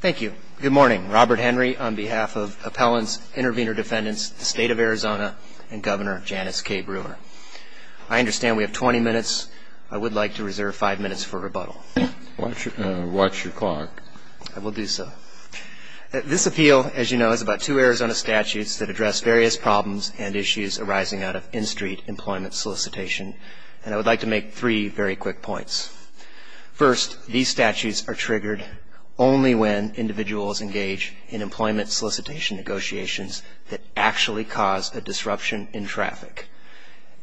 Thank you. Good morning. Robert Henry on behalf of Appellants, Intervenor Defendants, the State of Arizona, and Governor Janice K. Brewer. I understand we have 20 minutes. I would like to reserve five minutes for rebuttal. Watch your clock. I will do so. This appeal, as you know, is about two Arizona statutes that address various problems and issues arising out of in-street employment solicitation. And I would like to make three very quick points. First, these statutes are triggered only when individuals engage in employment solicitation negotiations that actually cause a disruption in traffic.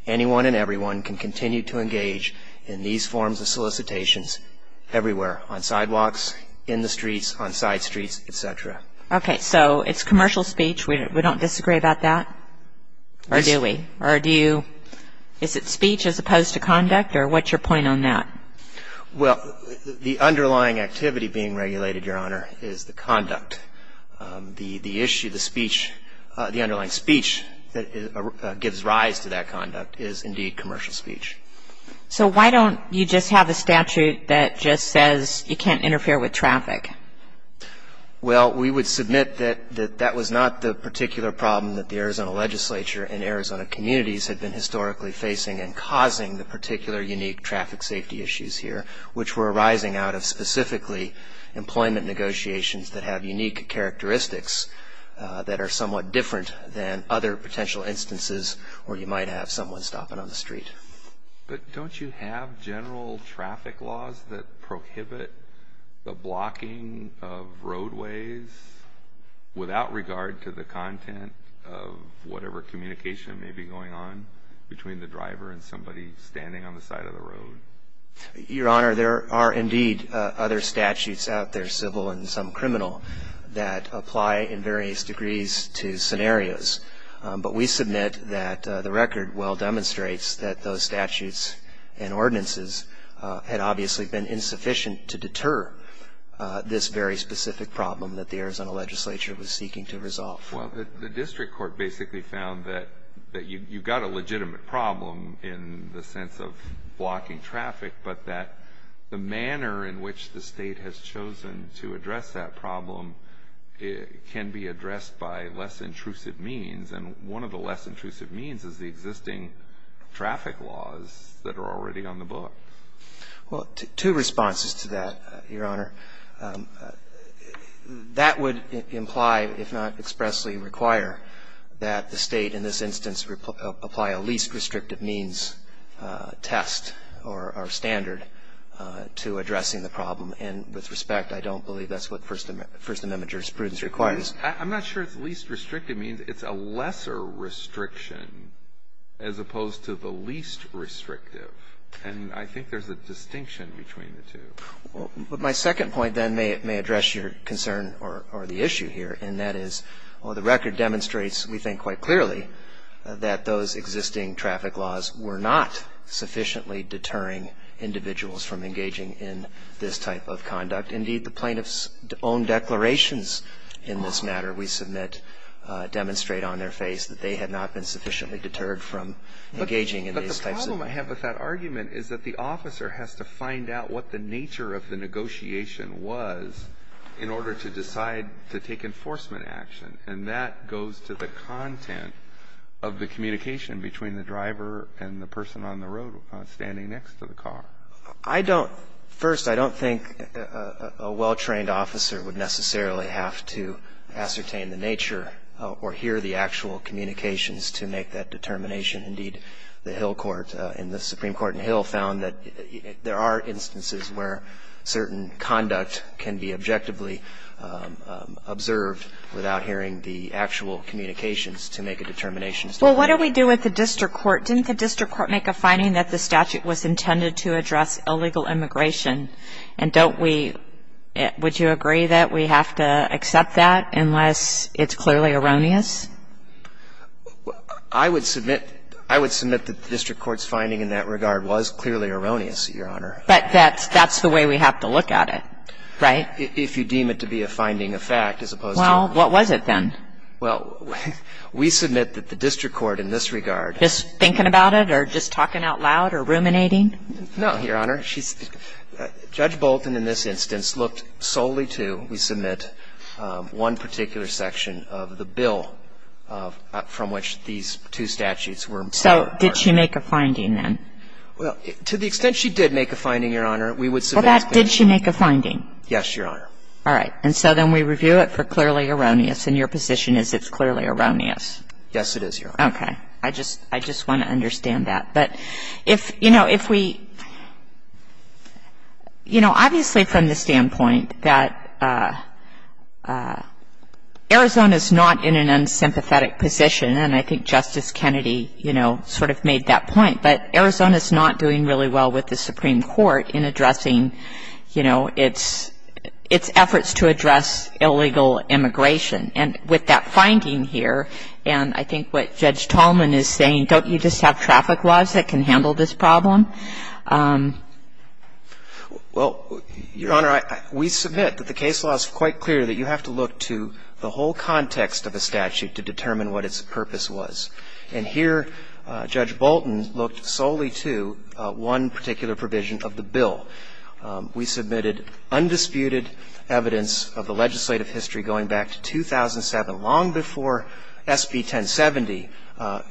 Anyone and everyone can continue to engage in these forms of solicitations everywhere, on sidewalks, in the streets, on side streets, etc. Okay, so it's commercial speech. We don't disagree about that? Or do we? Or do you, is it speech as opposed to conduct? Or what's your point on that? Well, the underlying activity being regulated, Your Honor, is the conduct. The issue, the speech, the underlying speech that gives rise to that conduct is indeed commercial speech. So why don't you just have a statute that just says you can't interfere with traffic? Well, we would submit that that was not the particular problem that the Arizona legislature and Arizona communities had been historically facing and causing the particular unique traffic safety issues here, which were arising out of specifically employment negotiations that have unique characteristics that are somewhat different than other potential instances where you might have someone stopping on the street. But don't you have general traffic laws that prohibit the blocking of roadways without regard to the content of whatever communication may be going on between the driver and somebody standing on the side of the road? Your Honor, there are indeed other statutes out there, civil and some criminal, that apply in various degrees to scenarios. But we submit that the record well demonstrates that those statutes and ordinances had obviously been insufficient to deter this very specific problem that the Arizona legislature was seeking to resolve. Well, the district court basically found that you've got a legitimate problem in the sense of blocking traffic, but that the manner in which the State has chosen to address that problem can be addressed by less intrusive means. And one of the less intrusive means is the existing traffic laws that are already on the book. Well, two responses to that, Your Honor. That would imply, if not expressly require, that the State, in this instance, apply a least restrictive means test or standard to addressing the problem. And with respect, I don't believe that's what First Amendment jurisprudence requires. I'm not sure if least restrictive means it's a lesser restriction as opposed to the least restrictive. And I think there's a distinction between the two. Well, but my second point, then, may address your concern or the issue here, and that is, well, the record demonstrates, we think quite clearly, that those existing traffic laws were not sufficiently deterring individuals from engaging in this type of conduct. Indeed, the plaintiffs' own declarations in this matter, we submit, demonstrate on their face that they had not been sufficiently deterred from engaging in these types of. But the problem I have with that argument is that the officer has to find out what the nature of the negotiation was in order to decide to take enforcement action. And that goes to the content of the communication between the driver and the person on the road standing next to the car. I don't – first, I don't think a well-trained officer would necessarily have to ascertain the nature or hear the actual communications to make that determination. Indeed, the Hill court in the Supreme Court in Hill found that there are instances where certain conduct can be objectively observed without hearing the actual communications to make a determination. Well, what do we do with the district court? Didn't the district court make a finding that the statute was intended to address illegal immigration? And don't we – would you agree that we have to accept that unless it's clearly erroneous? I would submit that the district court's finding in that regard was clearly erroneous, Your Honor. But that's the way we have to look at it, right? If you deem it to be a finding of fact as opposed to – Well, what was it then? Well, we submit that the district court in this regard – Just thinking about it or just talking out loud or ruminating? No, Your Honor. Judge Bolton in this instance looked solely to, we submit, one particular section of the bill from which these two statutes were – So did she make a finding then? Well, to the extent she did make a finding, Your Honor, we would submit – Well, that – did she make a finding? Yes, Your Honor. All right. And so then we review it for clearly erroneous, and your position is it's clearly erroneous? Yes, it is, Your Honor. Okay. I just want to understand that. But if, you know, if we – you know, obviously from the standpoint that Arizona is not in an unsympathetic position, and I think Justice Kennedy, you know, sort of made that point, but Arizona is not doing really well with the Supreme Court in addressing, you know, its efforts to address illegal immigration. And with that finding here, and I think what Judge Tallman is saying, don't you just have traffic laws that can handle this problem? Well, Your Honor, we submit that the case law is quite clear that you have to look to the whole context of a statute to determine what its purpose was. And here Judge Bolton looked solely to one particular provision of the bill. We submitted undisputed evidence of the legislative history going back to 2007, long before SB 1070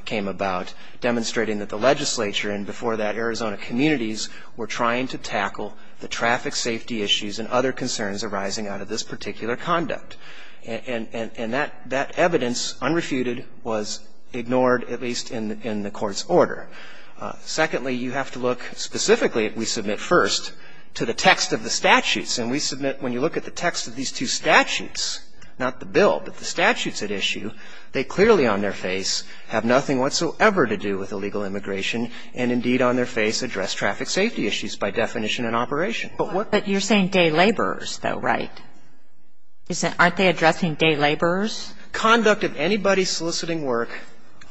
came about, demonstrating that the legislature and before that Arizona communities were trying to tackle the traffic safety issues and other concerns arising out of this particular conduct. And that evidence, unrefuted, was ignored, at least in the Court's order. Secondly, you have to look specifically, we submit first, to the text of the statutes. And we submit when you look at the text of these two statutes, not the bill, but the statutes at issue, they clearly on their face have nothing whatsoever to do with illegal immigration and indeed on their face address traffic safety issues by definition and operation. But what But you're saying day laborers, though, right? Aren't they addressing day laborers? Conduct of anybody soliciting work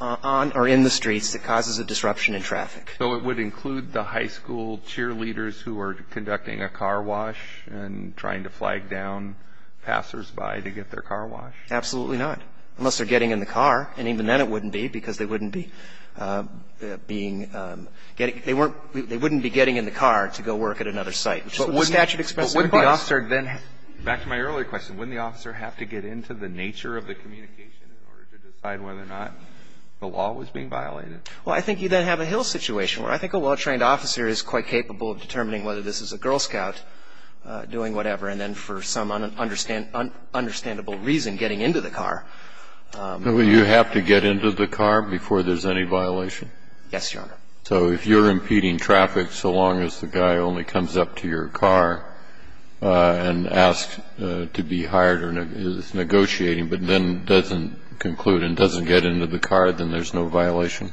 on or in the streets that causes a disruption in traffic. So it would include the high school cheerleaders who are conducting a car wash and trying to flag down passersby to get their car washed? Absolutely not, unless they're getting in the car. And even then it wouldn't be, because they wouldn't be being getting they weren't they wouldn't be getting in the car to go work at another site, which is what the statute expressly implies. But wouldn't the officer then, back to my earlier question, wouldn't the officer have to get into the nature of the communication in order to decide whether or not the law was being violated? Well, I think you then have a Hill situation where I think a well-trained officer is quite capable of determining whether this is a Girl Scout doing whatever and then for some understandable reason getting into the car. You have to get into the car before there's any violation? Yes, Your Honor. So if you're impeding traffic so long as the guy only comes up to your car and asks to be hired or is negotiating but then doesn't conclude and doesn't get into the car, then there's no violation?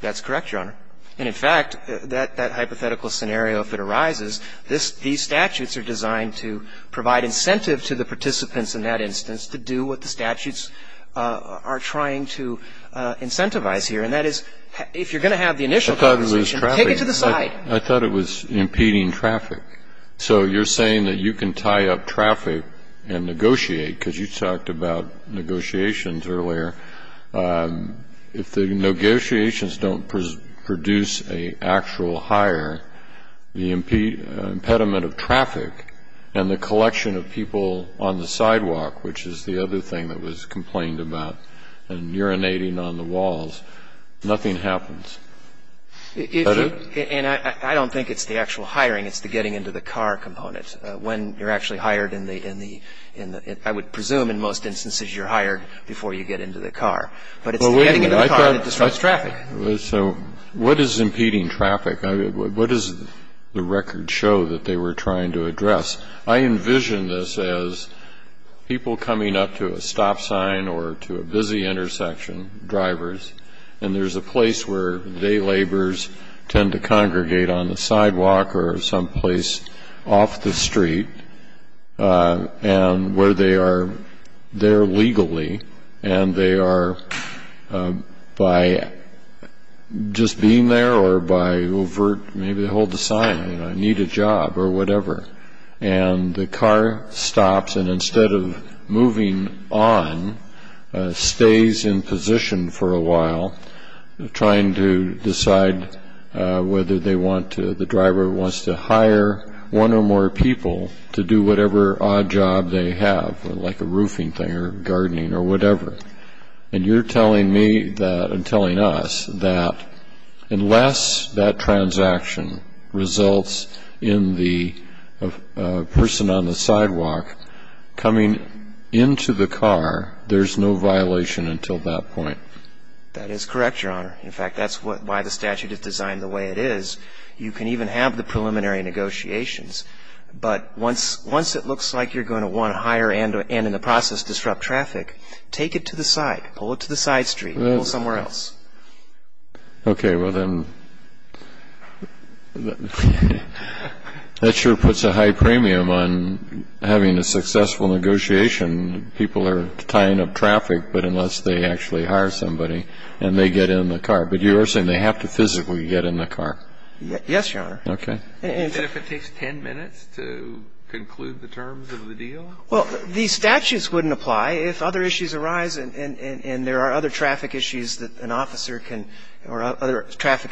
That's correct, Your Honor. And in fact, that hypothetical scenario, if it arises, these statutes are designed to provide incentive to the participants in that instance to do what the statutes are trying to incentivize here. And that is if you're going to have the initial conversation, take it to the side. I thought it was traffic. I thought it was impeding traffic. So you're saying that you can tie up traffic and negotiate because you talked about negotiations earlier. If the negotiations don't produce an actual hire, the impediment of traffic and the collection of people on the sidewalk, which is the other thing that was complained about and urinating on the walls, nothing happens. Is that it? And I don't think it's the actual hiring. It's the getting into the car component. When you're actually hired in the ‑‑ I would presume in most instances you're hired before you get into the car. But it's the getting into the car that disrupts traffic. So what is impeding traffic? What does the record show that they were trying to address? I envision this as people coming up to a stop sign or to a busy intersection, drivers, and there's a place where day laborers tend to congregate on the sidewalk or someplace off the street and where they are there legally and they are by just being there or by holding a sign, I need a job or whatever. And the car stops and instead of moving on, stays in position for a while, trying to decide whether they want to ‑‑ the driver wants to hire one or more people to do whatever odd job they have, like a roofing thing or gardening or whatever. And you're telling me and telling us that unless that transaction results in the person on the sidewalk coming into the car, there's no violation until that point. That is correct, Your Honor. In fact, that's why the statute is designed the way it is. You can even have the preliminary negotiations. But once it looks like you're going to want to hire and in the process disrupt traffic, take it to the side. Pull it to the side street or somewhere else. Okay. Well, then that sure puts a high premium on having a successful negotiation. People are tying up traffic, but unless they actually hire somebody and they get in the car. But you are saying they have to physically get in the car. Yes, Your Honor. Okay. And if it takes ten minutes to conclude the terms of the deal? Well, the statutes wouldn't apply. If other issues arise and there are other traffic issues that an officer can or other traffic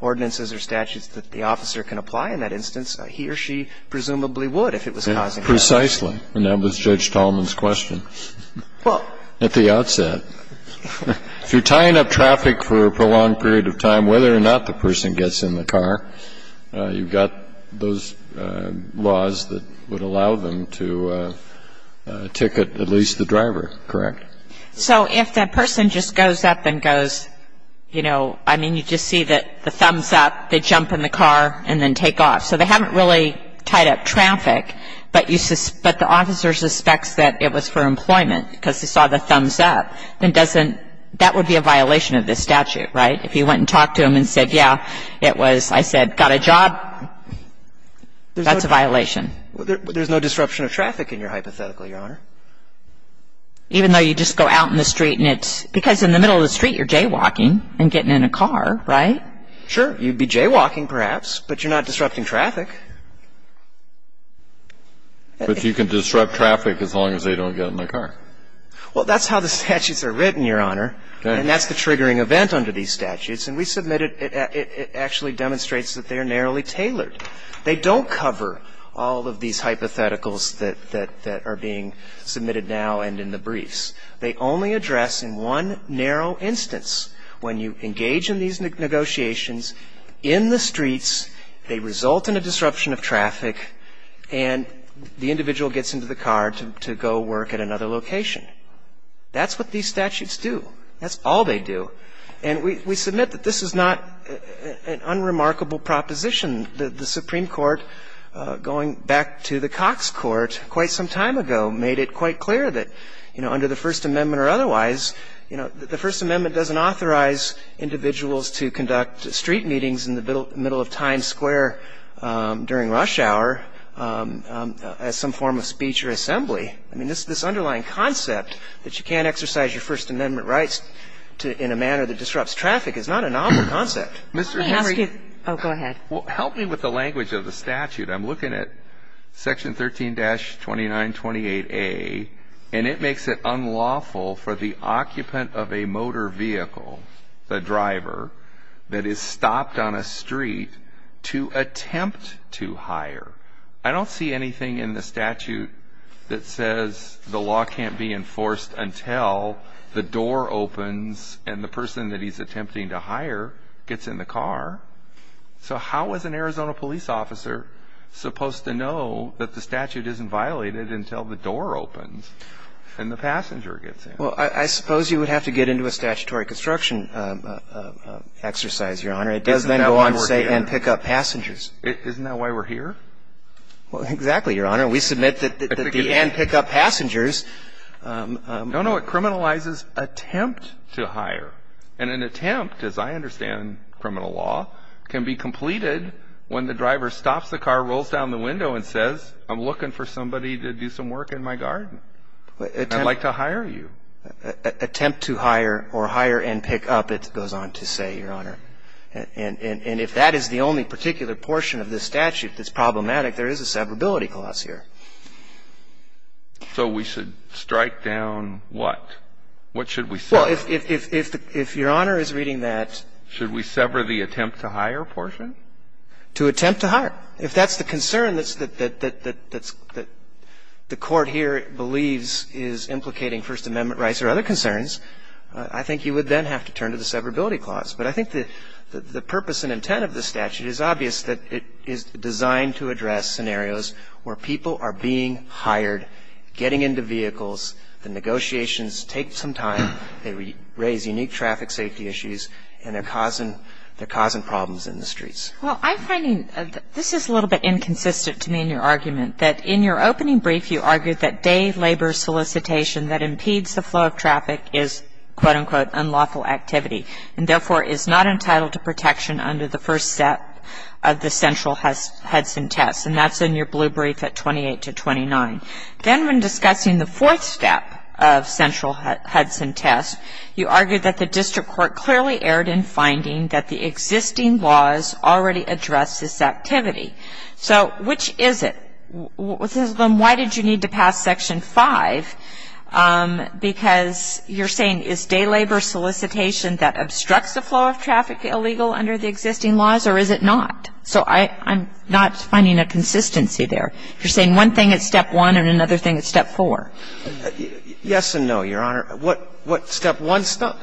ordinances or statutes that the officer can apply in that instance, he or she presumably would if it was causing that. Precisely. And that was Judge Tallman's question. Well. At the outset. If you're tying up traffic for a prolonged period of time, whether or not the person would allow them to ticket at least the driver, correct? So if that person just goes up and goes, you know, I mean, you just see the thumbs up, they jump in the car and then take off. So they haven't really tied up traffic, but the officer suspects that it was for employment because they saw the thumbs up, then that would be a violation of this statute, right? If you went and talked to them and said, yeah, it was, I said, got a job, that's a violation. There's no disruption of traffic in your hypothetical, Your Honor. Even though you just go out in the street and it's because in the middle of the street you're jaywalking and getting in a car, right? Sure. You'd be jaywalking perhaps, but you're not disrupting traffic. But you can disrupt traffic as long as they don't get in the car. Well, that's how the statutes are written, Your Honor. Okay. And that's the triggering event under these statutes. And we submitted it actually demonstrates that they are narrowly tailored. They don't cover all of these hypotheticals that are being submitted now and in the briefs. They only address in one narrow instance when you engage in these negotiations in the streets, they result in a disruption of traffic, and the individual gets into the car to go work at another location. That's what these statutes do. That's all they do. And we submit that this is not an unremarkable proposition. The Supreme Court, going back to the Cox Court quite some time ago, made it quite clear that, you know, under the First Amendment or otherwise, you know, the First Amendment doesn't authorize individuals to conduct street meetings in the middle of Times Square during rush hour as some form of speech or assembly. I mean, this underlying concept that you can't exercise your First Amendment rights in a manner that disrupts traffic is not a novel concept. Mr. Henry. Oh, go ahead. Well, help me with the language of the statute. I'm looking at Section 13-2928A, and it makes it unlawful for the occupant of a motor vehicle, the driver, that is stopped on a street to attempt to hire. I don't see anything in the statute that says the law can't be enforced until the door opens and the person that he's attempting to hire gets in the car. So how is an Arizona police officer supposed to know that the statute isn't violated until the door opens and the passenger gets in? Well, I suppose you would have to get into a statutory construction exercise, Your Honor. It doesn't then go on to say and pick up passengers. Isn't that why we're here? Well, exactly, Your Honor. We submit that the and pick up passengers. No, no. It criminalizes attempt to hire. And an attempt, as I understand criminal law, can be completed when the driver stops the car, rolls down the window and says, I'm looking for somebody to do some work in my garden. I'd like to hire you. Attempt to hire or hire and pick up, it goes on to say, Your Honor. And if that is the only particular portion of this statute that's problematic, there is a severability clause here. So we should strike down what? What should we sever? Well, if Your Honor is reading that. Should we sever the attempt to hire portion? To attempt to hire. If that's the concern that the Court here believes is implicating First Amendment rights or other concerns, I think you would then have to turn to the severability clause. But I think the purpose and intent of the statute is obvious, that it is designed to address scenarios where people are being hired, getting into vehicles, the negotiations take some time, they raise unique traffic safety issues, and they're causing problems in the streets. Well, I'm finding this is a little bit inconsistent to me in your argument, that in your opening brief you argued that day labor solicitation that impedes the flow of traffic is, quote, unquote, unlawful activity, and therefore is not entitled to protection under the first step of the central Hudson test. And that's in your blue brief at 28 to 29. Then when discussing the fourth step of central Hudson test, you argued that the district court clearly erred in finding that the existing laws already address this activity. So which is it? Then why did you need to pass Section 5? Because you're saying is day labor solicitation that obstructs the flow of traffic illegal under the existing laws, or is it not? So I'm not finding a consistency there. You're saying one thing at step one and another thing at step four. Yes and no, Your Honor. What step one step?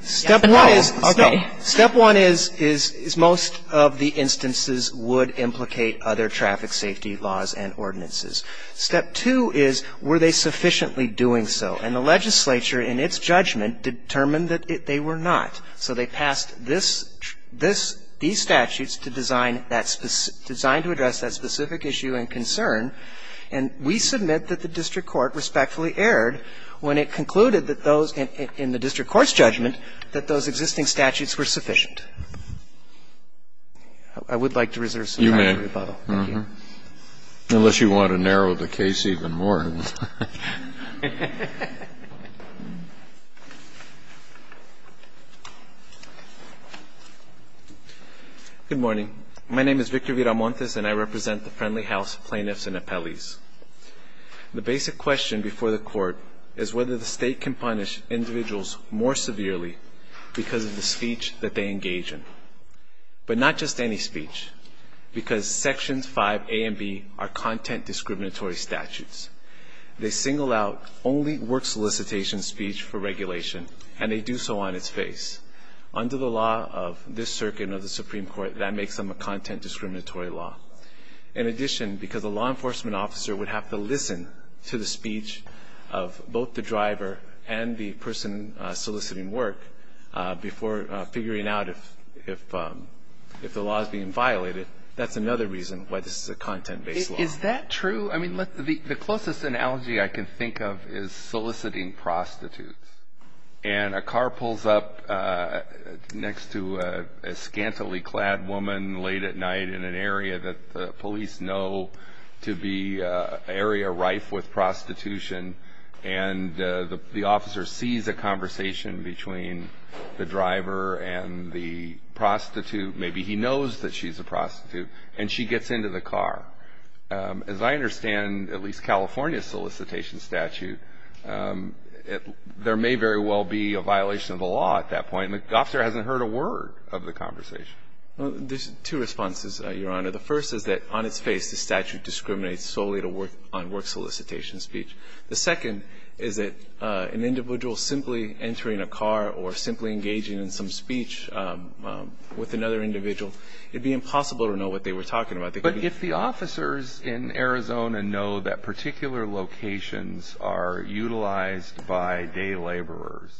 Step one is most of the instances would implicate other traffic safety laws and ordinances. Step two is were they sufficiently doing so. And the legislature in its judgment determined that they were not. So they passed this, this, these statutes to design that, designed to address that specific issue and concern. And we submit that the district court respectfully erred when it concluded that those in the district court's judgment that those existing statutes were sufficient. I would like to reserve some time for rebuttal. You may. Unless you want to narrow the case even more. Good morning. My name is Victor Viramontes and I represent the friendly house plaintiffs and appellees. The basic question before the court is whether the state can punish individuals more severely because of the speech that they engage in. But not just any speech because Sections 5A and B are content discriminatory statutes. They single out only work solicitation speech for regulation and they do so on its face. Under the law of this circuit and of the Supreme Court, that makes them a content discriminatory law. In addition, because a law enforcement officer would have to listen to the speech of both the driver and the person soliciting work before figuring out if the law is being violated, that's another reason why this is a content-based law. Is that true? I mean, the closest analogy I can think of is soliciting prostitutes. And a car pulls up next to a scantily clad woman late at night in an area that the police know to be an area rife with prostitution and the officer sees a conversation between the driver and the prostitute. Maybe he knows that she's a prostitute and she gets into the car. As I understand, at least California solicitation statute, there may very well be a violation of the law at that point and the officer hasn't heard a word of the conversation. There's two responses, Your Honor. The first is that on its face the statute discriminates solely on work solicitation speech. The second is that an individual simply entering a car or simply engaging in some activity with another individual, it would be impossible to know what they were talking about. But if the officers in Arizona know that particular locations are utilized by day laborers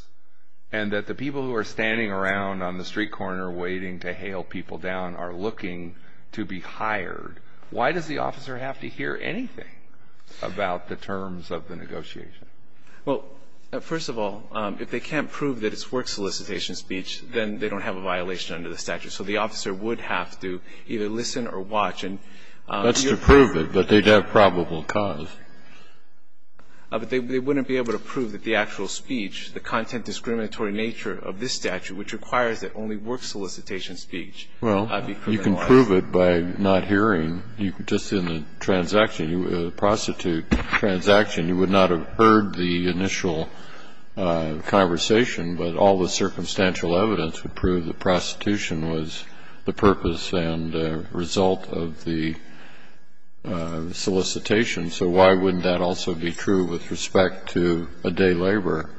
and that the people who are standing around on the street corner waiting to hail people down are looking to be hired, why does the officer have to hear anything about the terms of the negotiation? Well, first of all, if they can't prove that it's work solicitation speech, then they don't have a violation under the statute. So the officer would have to either listen or watch. That's to prove it, but they'd have probable cause. But they wouldn't be able to prove that the actual speech, the content discriminatory nature of this statute, which requires that only work solicitation speech be criminalized. Well, you can prove it by not hearing. Just in the transaction, the prostitute transaction, you would not have heard the initial conversation, but all the circumstantial evidence would prove the prostitution was the purpose and result of the solicitation. So why wouldn't that also be true with respect to a day laborer?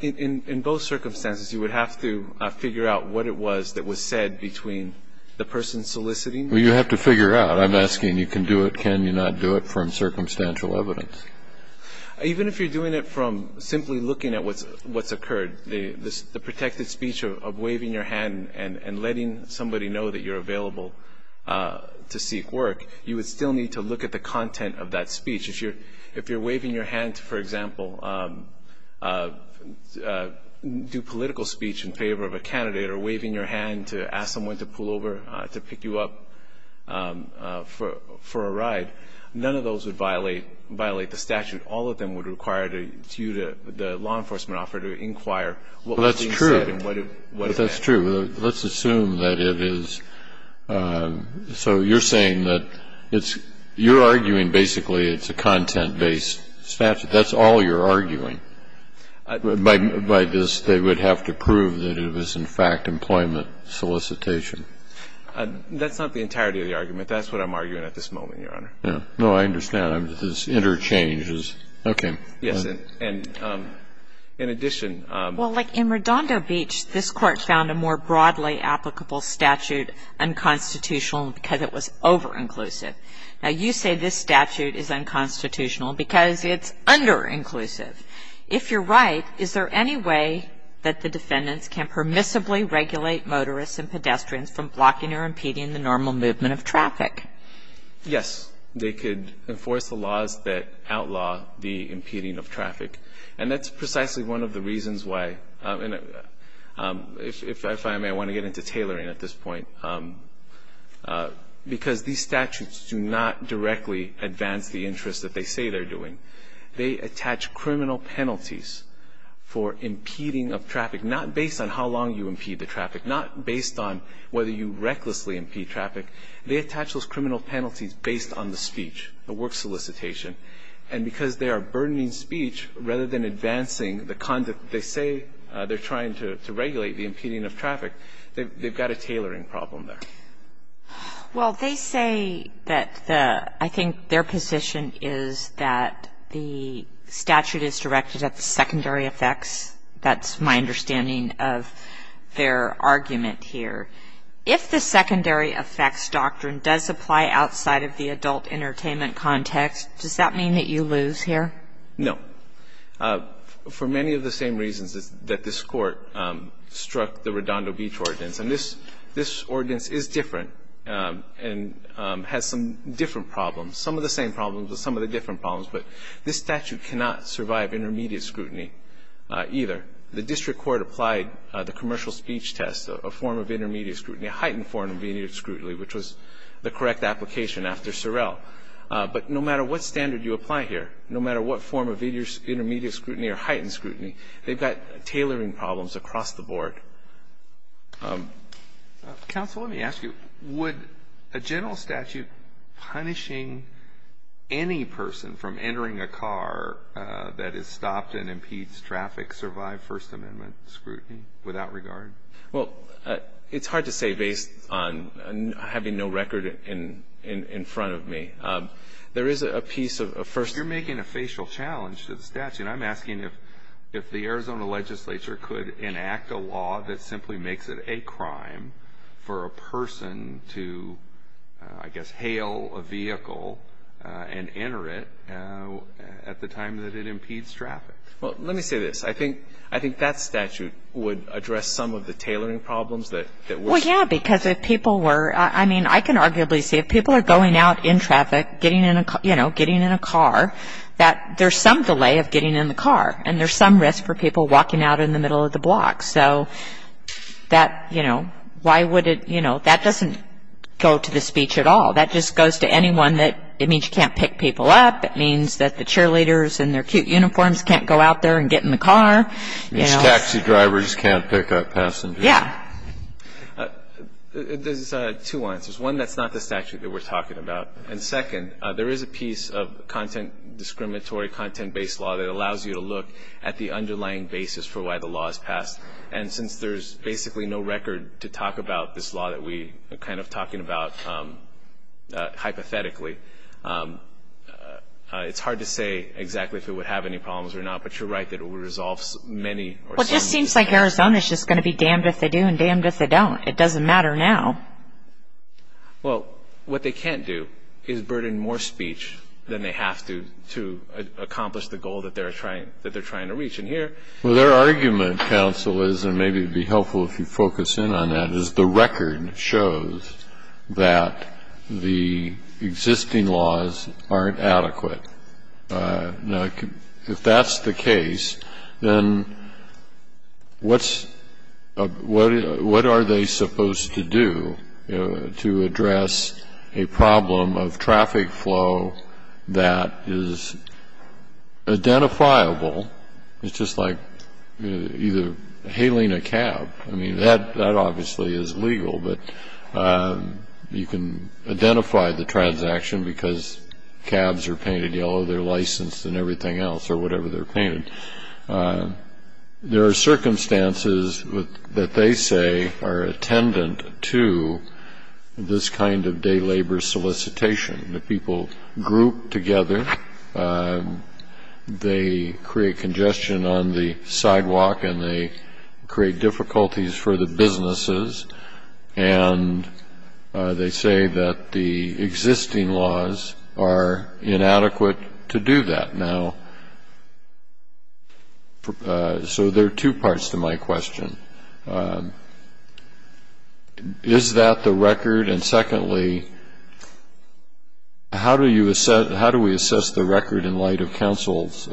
In both circumstances, you would have to figure out what it was that was said between the person soliciting. Well, you have to figure out. I'm asking you can do it, can you not do it from circumstantial evidence? Even if you're doing it from simply looking at what's occurred, the protected speech of waving your hand and letting somebody know that you're available to seek work, you would still need to look at the content of that speech. If you're waving your hand to, for example, do political speech in favor of a candidate or waving your hand to ask someone to pull over to pick you up for a ride, none of those would violate the statute. All of them would require you, the law enforcement officer, to inquire what was being said Well, that's true. That's true. Let's assume that it is. So you're saying that it's you're arguing basically it's a content-based statute. That's all you're arguing. By this, they would have to prove that it was, in fact, employment solicitation. That's not the entirety of the argument. That's what I'm arguing at this moment, Your Honor. No, I understand. It's interchanges. Okay. Yes, and in addition Well, like in Redondo Beach, this Court found a more broadly applicable statute unconstitutional because it was over-inclusive. Now, you say this statute is unconstitutional because it's under-inclusive. If you're right, is there any way that the defendants can permissibly regulate motorists and pedestrians from blocking or impeding the normal movement of traffic? Yes. They could enforce the laws that outlaw the impeding of traffic. And that's precisely one of the reasons why, and if I may, I want to get into tailoring at this point, because these statutes do not directly advance the interests that they say they're doing. They attach criminal penalties for impeding of traffic, not based on how long you impede the traffic, not based on whether you recklessly impede traffic. They attach those criminal penalties based on the speech, the work solicitation. And because they are burdening speech rather than advancing the conduct that they say they're trying to regulate the impeding of traffic, they've got a tailoring problem there. Well, they say that the – I think their position is that the statute is directed at the secondary effects. That's my understanding of their argument here. If the secondary effects doctrine does apply outside of the adult entertainment context, does that mean that you lose here? No. For many of the same reasons that this Court struck the Redondo Beach ordinance. And this ordinance is different and has some different problems, some of the same problems with some of the different problems. But this statute cannot survive intermediate scrutiny either. The district court applied the commercial speech test, a form of intermediate scrutiny, a heightened form of intermediate scrutiny, which was the correct application after Sorrell. But no matter what standard you apply here, no matter what form of intermediate scrutiny or heightened scrutiny, they've got tailoring problems across the board. Counsel, let me ask you, would a general statute punishing any person from entering a car that is stopped and impedes traffic survive First Amendment scrutiny without regard? Well, it's hard to say based on having no record in front of me. There is a piece of – You're making a facial challenge to the statute. I'm asking if the Arizona legislature could enact a law that simply makes it a crime for a person to, I guess, hail a vehicle and enter it at the time that it impedes traffic. Well, let me say this. I think that statute would address some of the tailoring problems that we're seeing. Well, yeah, because if people were – I mean, I can arguably say if people are going out in traffic, getting in a car, you know, getting in a car, that there's some delay of getting in the car. And there's some risk for people walking out in the middle of the block. So that, you know, why would it – you know, that doesn't go to the speech at all. That just goes to anyone that – it means you can't pick people up. It means that the cheerleaders in their cute uniforms can't go out there and get in the car. It means taxi drivers can't pick up passengers. Yeah. There's two answers. One, that's not the statute that we're talking about. And second, there is a piece of content – discriminatory content-based law that allows you to look at the underlying basis for why the law is passed. And since there's basically no record to talk about this law that we are kind of talking about hypothetically, it's hard to say exactly if it would have any problems or not. But you're right that it would resolve many – Well, it just seems like Arizona is just going to be damned if they do and damned if they don't. It doesn't matter now. Well, what they can't do is burden more speech than they have to to accomplish the goals that they're trying to reach. And here – Well, their argument, counsel, is – and maybe it would be helpful if you focus in on that – is the record shows that the existing laws aren't adequate. Now, if that's the case, then what's – what are they supposed to do to address a problem of traffic flow that is identifiable? It's just like either hailing a cab. I mean, that obviously is legal, but you can identify the transaction because cabs are painted yellow. They're licensed and everything else, or whatever they're painted. There are circumstances that they say are attendant to this kind of day labor solicitation. The people group together. They create congestion on the sidewalk and they create difficulties for the businesses. And they say that the existing laws are inadequate to do that. So there are two parts to my question. Is that the record? And secondly, how do we assess the record in light of counsel's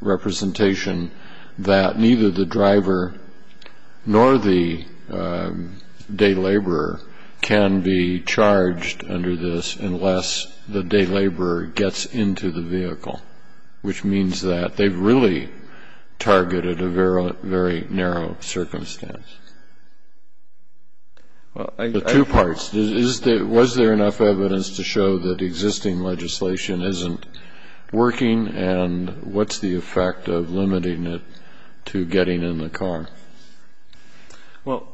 representation that neither the driver nor the day laborer can be charged under this unless the day laborer gets into the vehicle, which means that they've really targeted a very narrow circumstance? The two parts. Was there enough evidence to show that existing legislation isn't working? And what's the effect of limiting it to getting in the car? Well,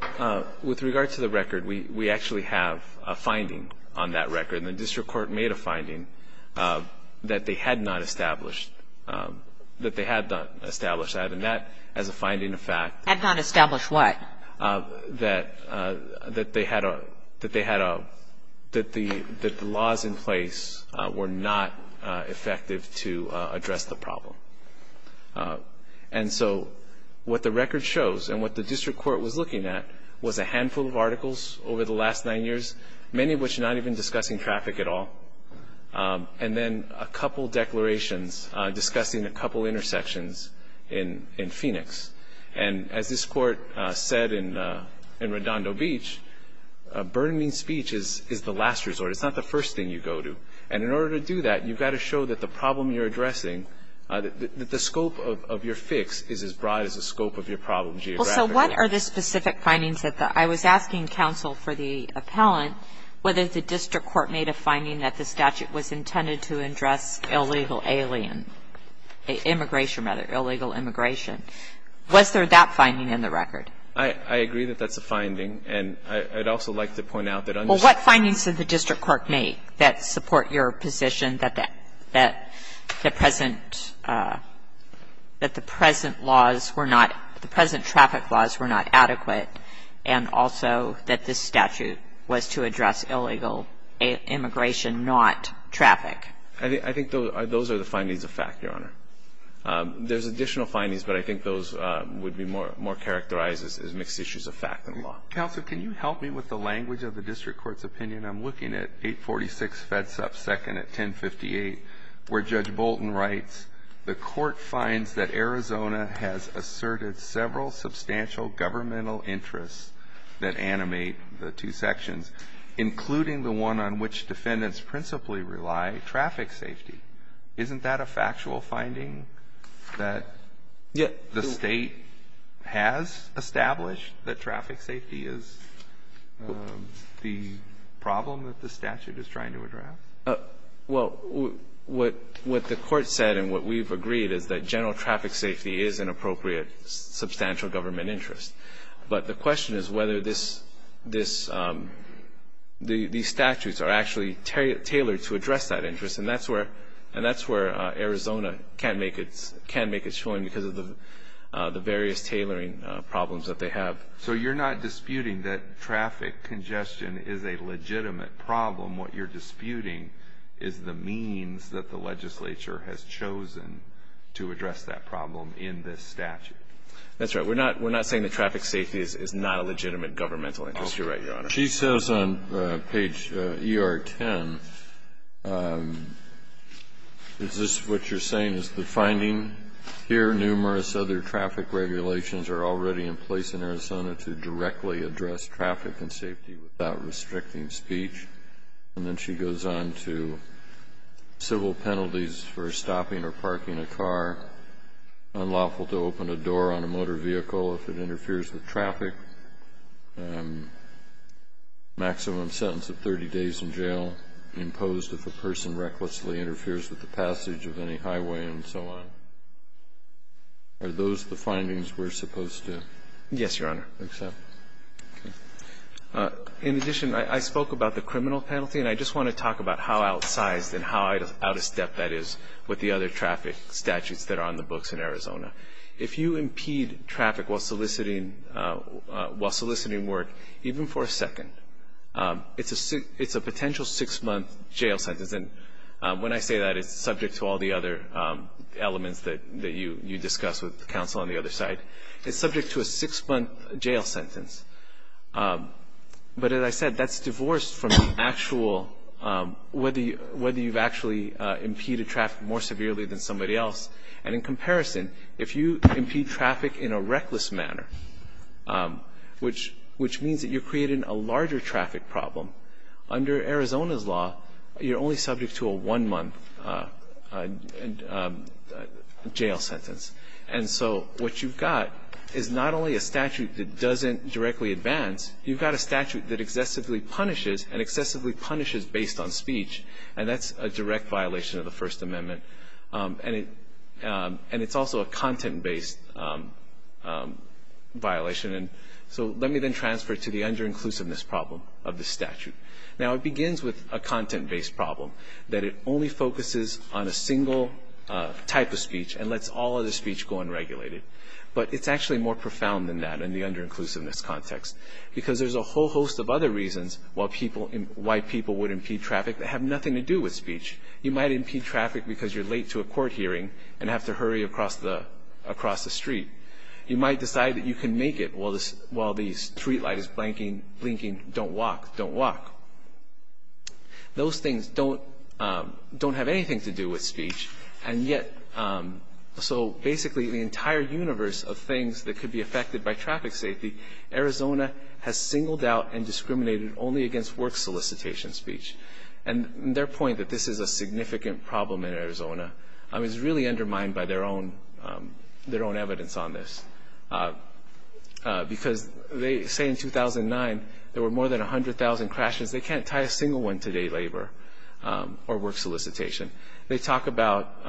with regard to the record, we actually have a finding on that record. And the district court made a finding that they had not established. That they had not established that. And that, as a finding of fact. Had not established what? That they had a, that the laws in place were not effective to address the problem. And so what the record shows and what the district court was looking at was a handful of articles over the last nine years, many of which not even discussing traffic at all. And then a couple declarations discussing a couple intersections in Phoenix. And as this court said in Redondo Beach, burning speech is the last resort. It's not the first thing you go to. And in order to do that, you've got to show that the problem you're addressing, that the scope of your fix is as broad as the scope of your problem geographically. What are the specific findings that the, I was asking counsel for the appellant whether the district court made a finding that the statute was intended to address illegal alien, immigration rather, illegal immigration. Was there that finding in the record? I agree that that's a finding. And I'd also like to point out that understanding. Well, what findings did the district court make that support your position that the present, that the present laws were not, the present traffic laws were not adequate. And also that this statute was to address illegal immigration, not traffic. I think those are the findings of fact, Your Honor. There's additional findings, but I think those would be more, more characterized as mixed issues of fact than law. Counsel, can you help me with the language of the district court's opinion? I'm looking at 846 FEDSUP second at 1058 where Judge Bolton writes, the court finds that Arizona has asserted several substantial governmental interests that animate the two sections, including the one on which defendants principally rely, traffic safety. Isn't that a factual finding that the state has established that traffic safety is the problem that the statute is trying to address? Well, what the court said and what we've agreed is that general traffic safety is an appropriate substantial government interest. But the question is whether this, these statutes are actually tailored to address that interest. And that's where, and that's where Arizona can't make its, can't make its choice because of the various tailoring problems that they have. So you're not disputing that traffic congestion is a legitimate problem. What you're disputing is the means that the legislature has chosen to address that problem in this statute. That's right. We're not, we're not saying that traffic safety is not a legitimate governmental interest. You're right, Your Honor. She says on page ER10, is this what you're saying is the finding here, numerous other traffic regulations are already in place in Arizona to directly address traffic and safety without restricting speech. And then she goes on to civil penalties for stopping or parking a car, unlawful to open a door on a motor vehicle if it interferes with traffic, maximum sentence of 30 days in jail imposed if a person recklessly interferes with the passage of any highway and so on. Are those the findings we're supposed to accept? Yes, Your Honor. In addition, I spoke about the criminal penalty, and I just want to talk about how outsized and how out of step that is with the other traffic statutes that are on the books in Arizona. If you impede traffic while soliciting work, even for a second, it's a potential six-month jail sentence. And when I say that, it's subject to all the other elements that you discuss with counsel on the other side. It's subject to a six-month jail sentence. But as I said, that's divorced from the actual whether you've actually impeded traffic more severely than somebody else. And in comparison, if you impede traffic in a reckless manner, which means that you're creating a larger traffic problem, under Arizona's law, you're only subject to a one-month jail sentence. And so what you've got is not only a statute that doesn't directly advance, you've got a statute that excessively punishes and excessively punishes based on speech, and that's a direct violation of the First Amendment. And it's also a content-based violation. And so let me then transfer to the under-inclusiveness problem of the statute. Now, it begins with a content-based problem, that it only focuses on a single type of speech and lets all other speech go unregulated. But it's actually more profound than that in the under-inclusiveness context, because there's a whole host of other reasons why people would impede traffic that have nothing to do with speech. You might impede traffic because you're late to a court hearing and have to hurry across the street. You might decide that you can make it while the streetlight is blinking, don't walk, don't walk. Those things don't have anything to do with speech. And yet, so basically the entire universe of things that could be affected by traffic safety, Arizona has singled out and discriminated only against work solicitation speech. And their point that this is a significant problem in Arizona is really based on this. Because they say in 2009 there were more than 100,000 crashes. They can't tie a single one to day labor or work solicitation. They talk about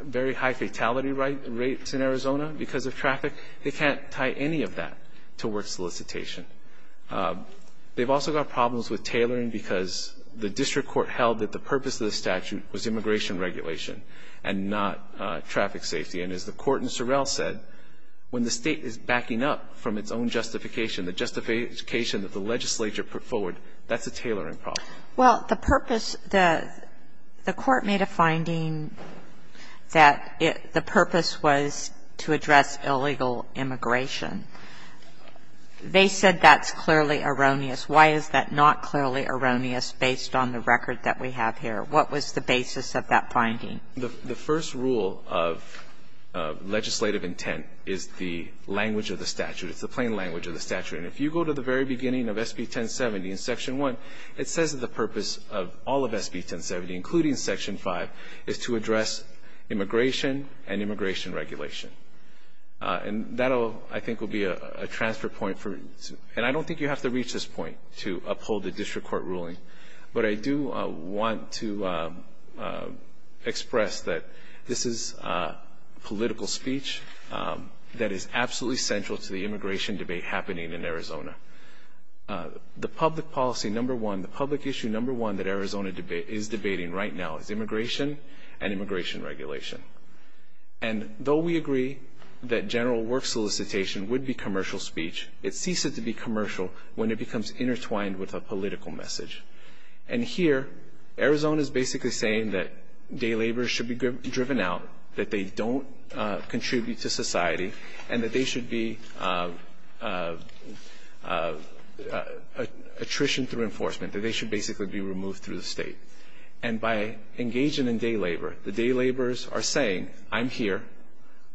very high fatality rates in Arizona because of traffic. They can't tie any of that to work solicitation. They've also got problems with tailoring because the district court held that the purpose of the statute was immigration regulation and not traffic safety. And as the Court in Sorrell said, when the State is backing up from its own justification, the justification that the legislature put forward, that's a tailoring problem. Well, the purpose, the Court made a finding that the purpose was to address illegal immigration. They said that's clearly erroneous. Why is that not clearly erroneous based on the record that we have here? What was the basis of that finding? The first rule of legislative intent is the language of the statute. It's the plain language of the statute. And if you go to the very beginning of SB 1070 in Section 1, it says that the purpose of all of SB 1070, including Section 5, is to address immigration and immigration regulation. And that, I think, will be a transfer point for you. And I don't think you have to reach this point to uphold the district court ruling. But I do want to express that this is political speech that is absolutely central to the immigration debate happening in Arizona. The public policy number one, the public issue number one that Arizona is debating right now is immigration and immigration regulation. And though we agree that general work solicitation would be commercial speech, it ceases to be commercial when it becomes intertwined with a political message. And here, Arizona is basically saying that day laborers should be driven out, that they don't contribute to society, and that they should be attrition through enforcement, that they should basically be removed through the state. And by engaging in day labor, the day laborers are saying, I'm here,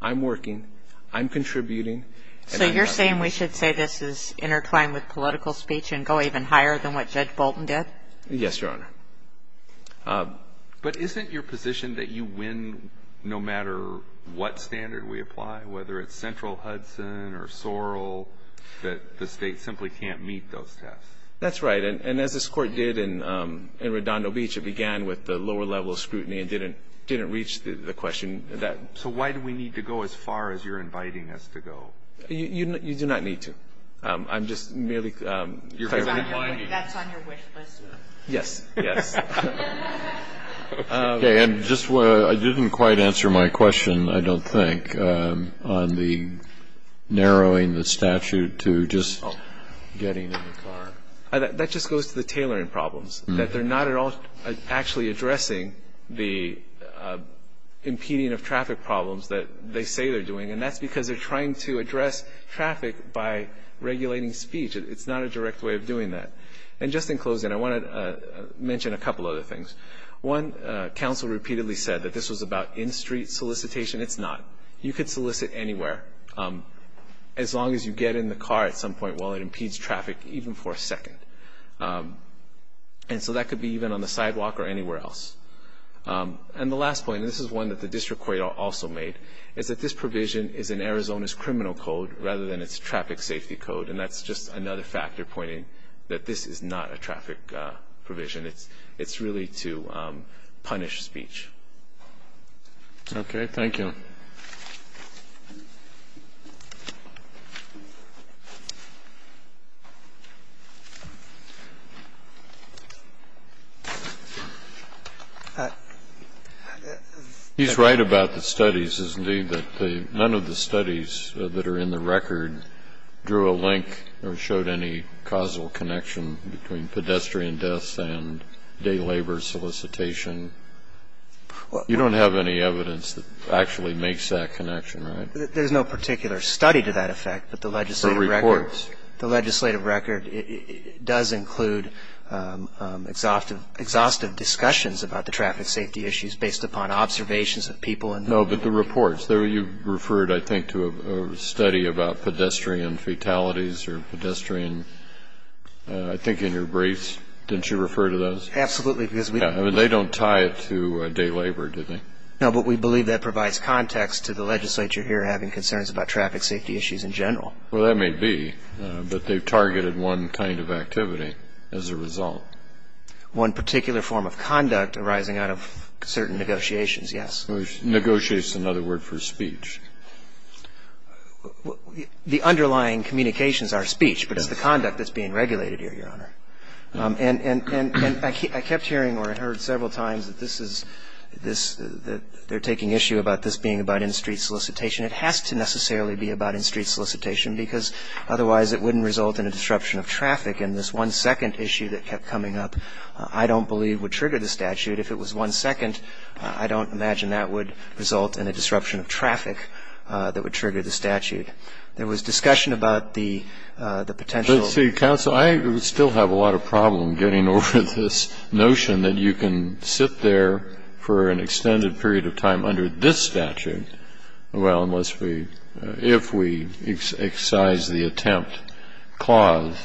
I'm working, I'm contributing. So you're saying we should say this is intertwined with political speech and go even higher than what Judge Bolton did? Yes, Your Honor. But isn't your position that you win no matter what standard we apply, whether it's central Hudson or Sorrell, that the state simply can't meet those tests? That's right. And as this Court did in Redondo Beach, it began with the lower level of scrutiny and didn't reach the question that ---- So why do we need to go as far as you're inviting us to go? You do not need to. I'm just merely ---- That's on your wish list. Yes. Yes. Okay. And just I didn't quite answer my question, I don't think, on the narrowing the statute to just getting in the car. That just goes to the tailoring problems, that they're not at all actually addressing the impeding of traffic problems that they say they're doing. And that's because they're trying to address traffic by regulating speech. It's not a direct way of doing that. And just in closing, I want to mention a couple other things. One, counsel repeatedly said that this was about in-street solicitation. It's not. You could solicit anywhere as long as you get in the car at some point while it impedes traffic even for a second. And so that could be even on the sidewalk or anywhere else. And the last point, and this is one that the district court also made, is that this provision is in Arizona's criminal code rather than its traffic safety code. And that's just another factor pointing that this is not a traffic provision. It's really to punish speech. Okay. Thank you. Mr. McLaughlin. He's right about the studies, isn't he, that none of the studies that are in the record drew a link or showed any causal connection between pedestrian deaths and day labor solicitation. You don't have any evidence that actually makes that connection, right? There's no particular study to that effect, but the legislative record does show a link. And it does include exhaustive discussions about the traffic safety issues based upon observations of people. No, but the reports. You referred, I think, to a study about pedestrian fatalities or pedestrian, I think, in your briefs. Didn't you refer to those? Absolutely. I mean, they don't tie it to day labor, do they? No, but we believe that provides context to the legislature here having concerns about traffic safety issues in general. Well, that may be, but they've targeted one kind of activity as a result. One particular form of conduct arising out of certain negotiations, yes. Negotiate is another word for speech. The underlying communications are speech, but it's the conduct that's being regulated here, Your Honor. And I kept hearing or I heard several times that this is, that they're taking issue about this being about in-street solicitation. It has to necessarily be about in-street solicitation, because otherwise it wouldn't result in a disruption of traffic. And this one-second issue that kept coming up I don't believe would trigger the statute. If it was one second, I don't imagine that would result in a disruption of traffic that would trigger the statute. There was discussion about the potential. But, see, counsel, I still have a lot of problem getting over this notion that you can sit there for an extended period of time under this statute. Well, unless we, if we excise the attempt clause.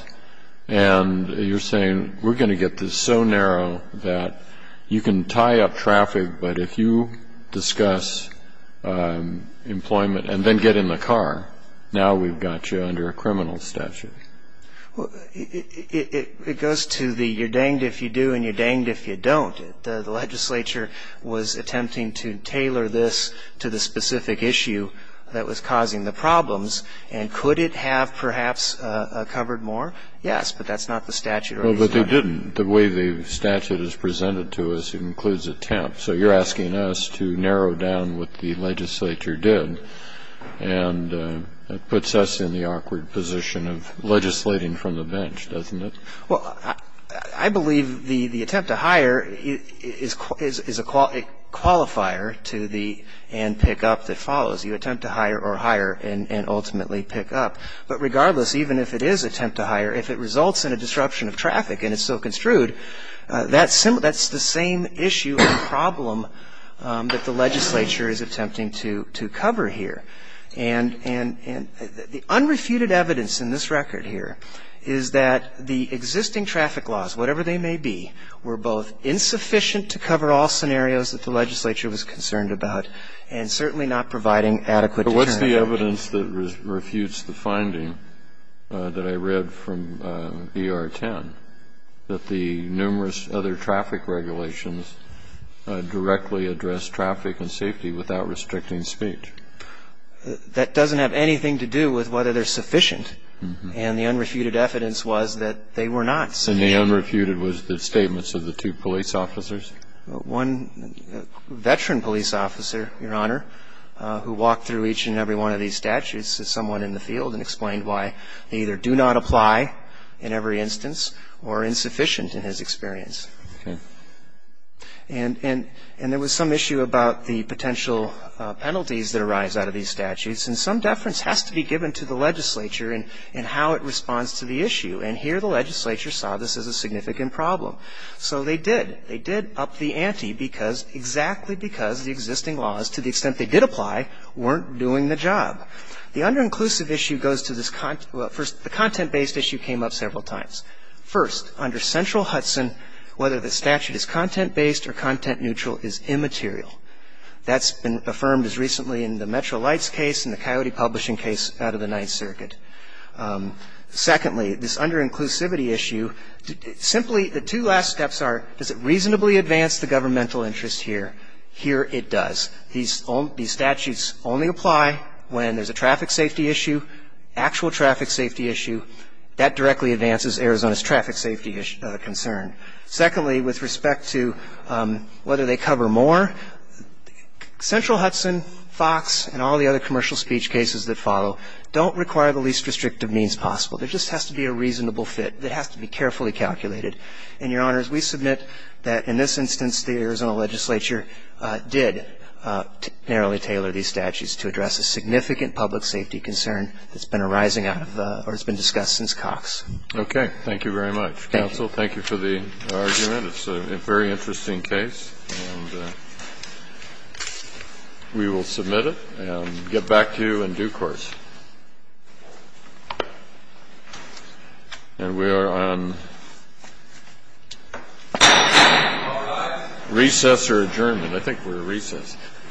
And you're saying we're going to get this so narrow that you can tie up traffic, but if you discuss employment and then get in the car, now we've got you under a criminal statute. Well, it goes to the you're danged if you do and you're danged if you don't. The legislature was attempting to tailor this to the specific issue that was causing the problems. And could it have perhaps covered more? Yes, but that's not the statute. Well, but they didn't. The way the statute is presented to us includes attempt. So you're asking us to narrow down what the legislature did. And it puts us in the awkward position of legislating from the bench, doesn't it? Well, I believe the attempt to hire is a qualifier to the and pick up that follows. You attempt to hire or hire and ultimately pick up. But regardless, even if it is attempt to hire, if it results in a disruption of traffic and it's so construed, that's the same issue or problem that the legislature is attempting to cover here. And the unrefuted evidence in this record here is that the existing traffic laws, whatever they may be, were both insufficient to cover all scenarios that the legislature was concerned about and certainly not providing adequate deterrent. But what's the evidence that refutes the finding that I read from ER-10, that the numerous other traffic regulations directly address traffic and safety without restricting speech? That doesn't have anything to do with whether they're sufficient. And the unrefuted evidence was that they were not sufficient. And the unrefuted was the statements of the two police officers? One veteran police officer, Your Honor, who walked through each and every one of these statutes is someone in the field and explained why they either do not apply in every one of these statutes, or they do not apply in every one of these statutes. They're not providing adequate experience. And there was some issue about the potential penalties that arise out of these statutes. And some deference has to be given to the legislature in how it responds to the issue. And here the legislature saw this as a significant problem. So they did. They did up the ante because, exactly because the existing laws, to the extent they did apply, weren't doing the job. The underinclusive issue goes to this content – well, first, the content-based issue came up several times. First, under Central Hudson, whether the statute is content-based or content-neutral is immaterial. That's been affirmed as recently in the Metro Lights case and the Coyote Publishing case out of the Ninth Circuit. Secondly, this underinclusivity issue, simply the two last steps are, does it reasonably advance the governmental interest here? Here it does. These statutes only apply when there's a traffic safety issue, actual traffic safety issue. That directly advances Arizona's traffic safety concern. Secondly, with respect to whether they cover more, Central Hudson, Fox, and all the other commercial speech cases that follow, don't require the least restrictive means possible. There just has to be a reasonable fit that has to be carefully calculated. And, Your Honors, we submit that, in this instance, the Arizona legislature did narrowly tailor these statutes to address a significant public safety concern that's been arising out of or has been discussed since Cox. Okay. Thank you very much. Thank you. Counsel, thank you for the argument. It's a very interesting case. And we will submit it and get back to you in due course. And we are on recess or adjournment. I think we're at recess.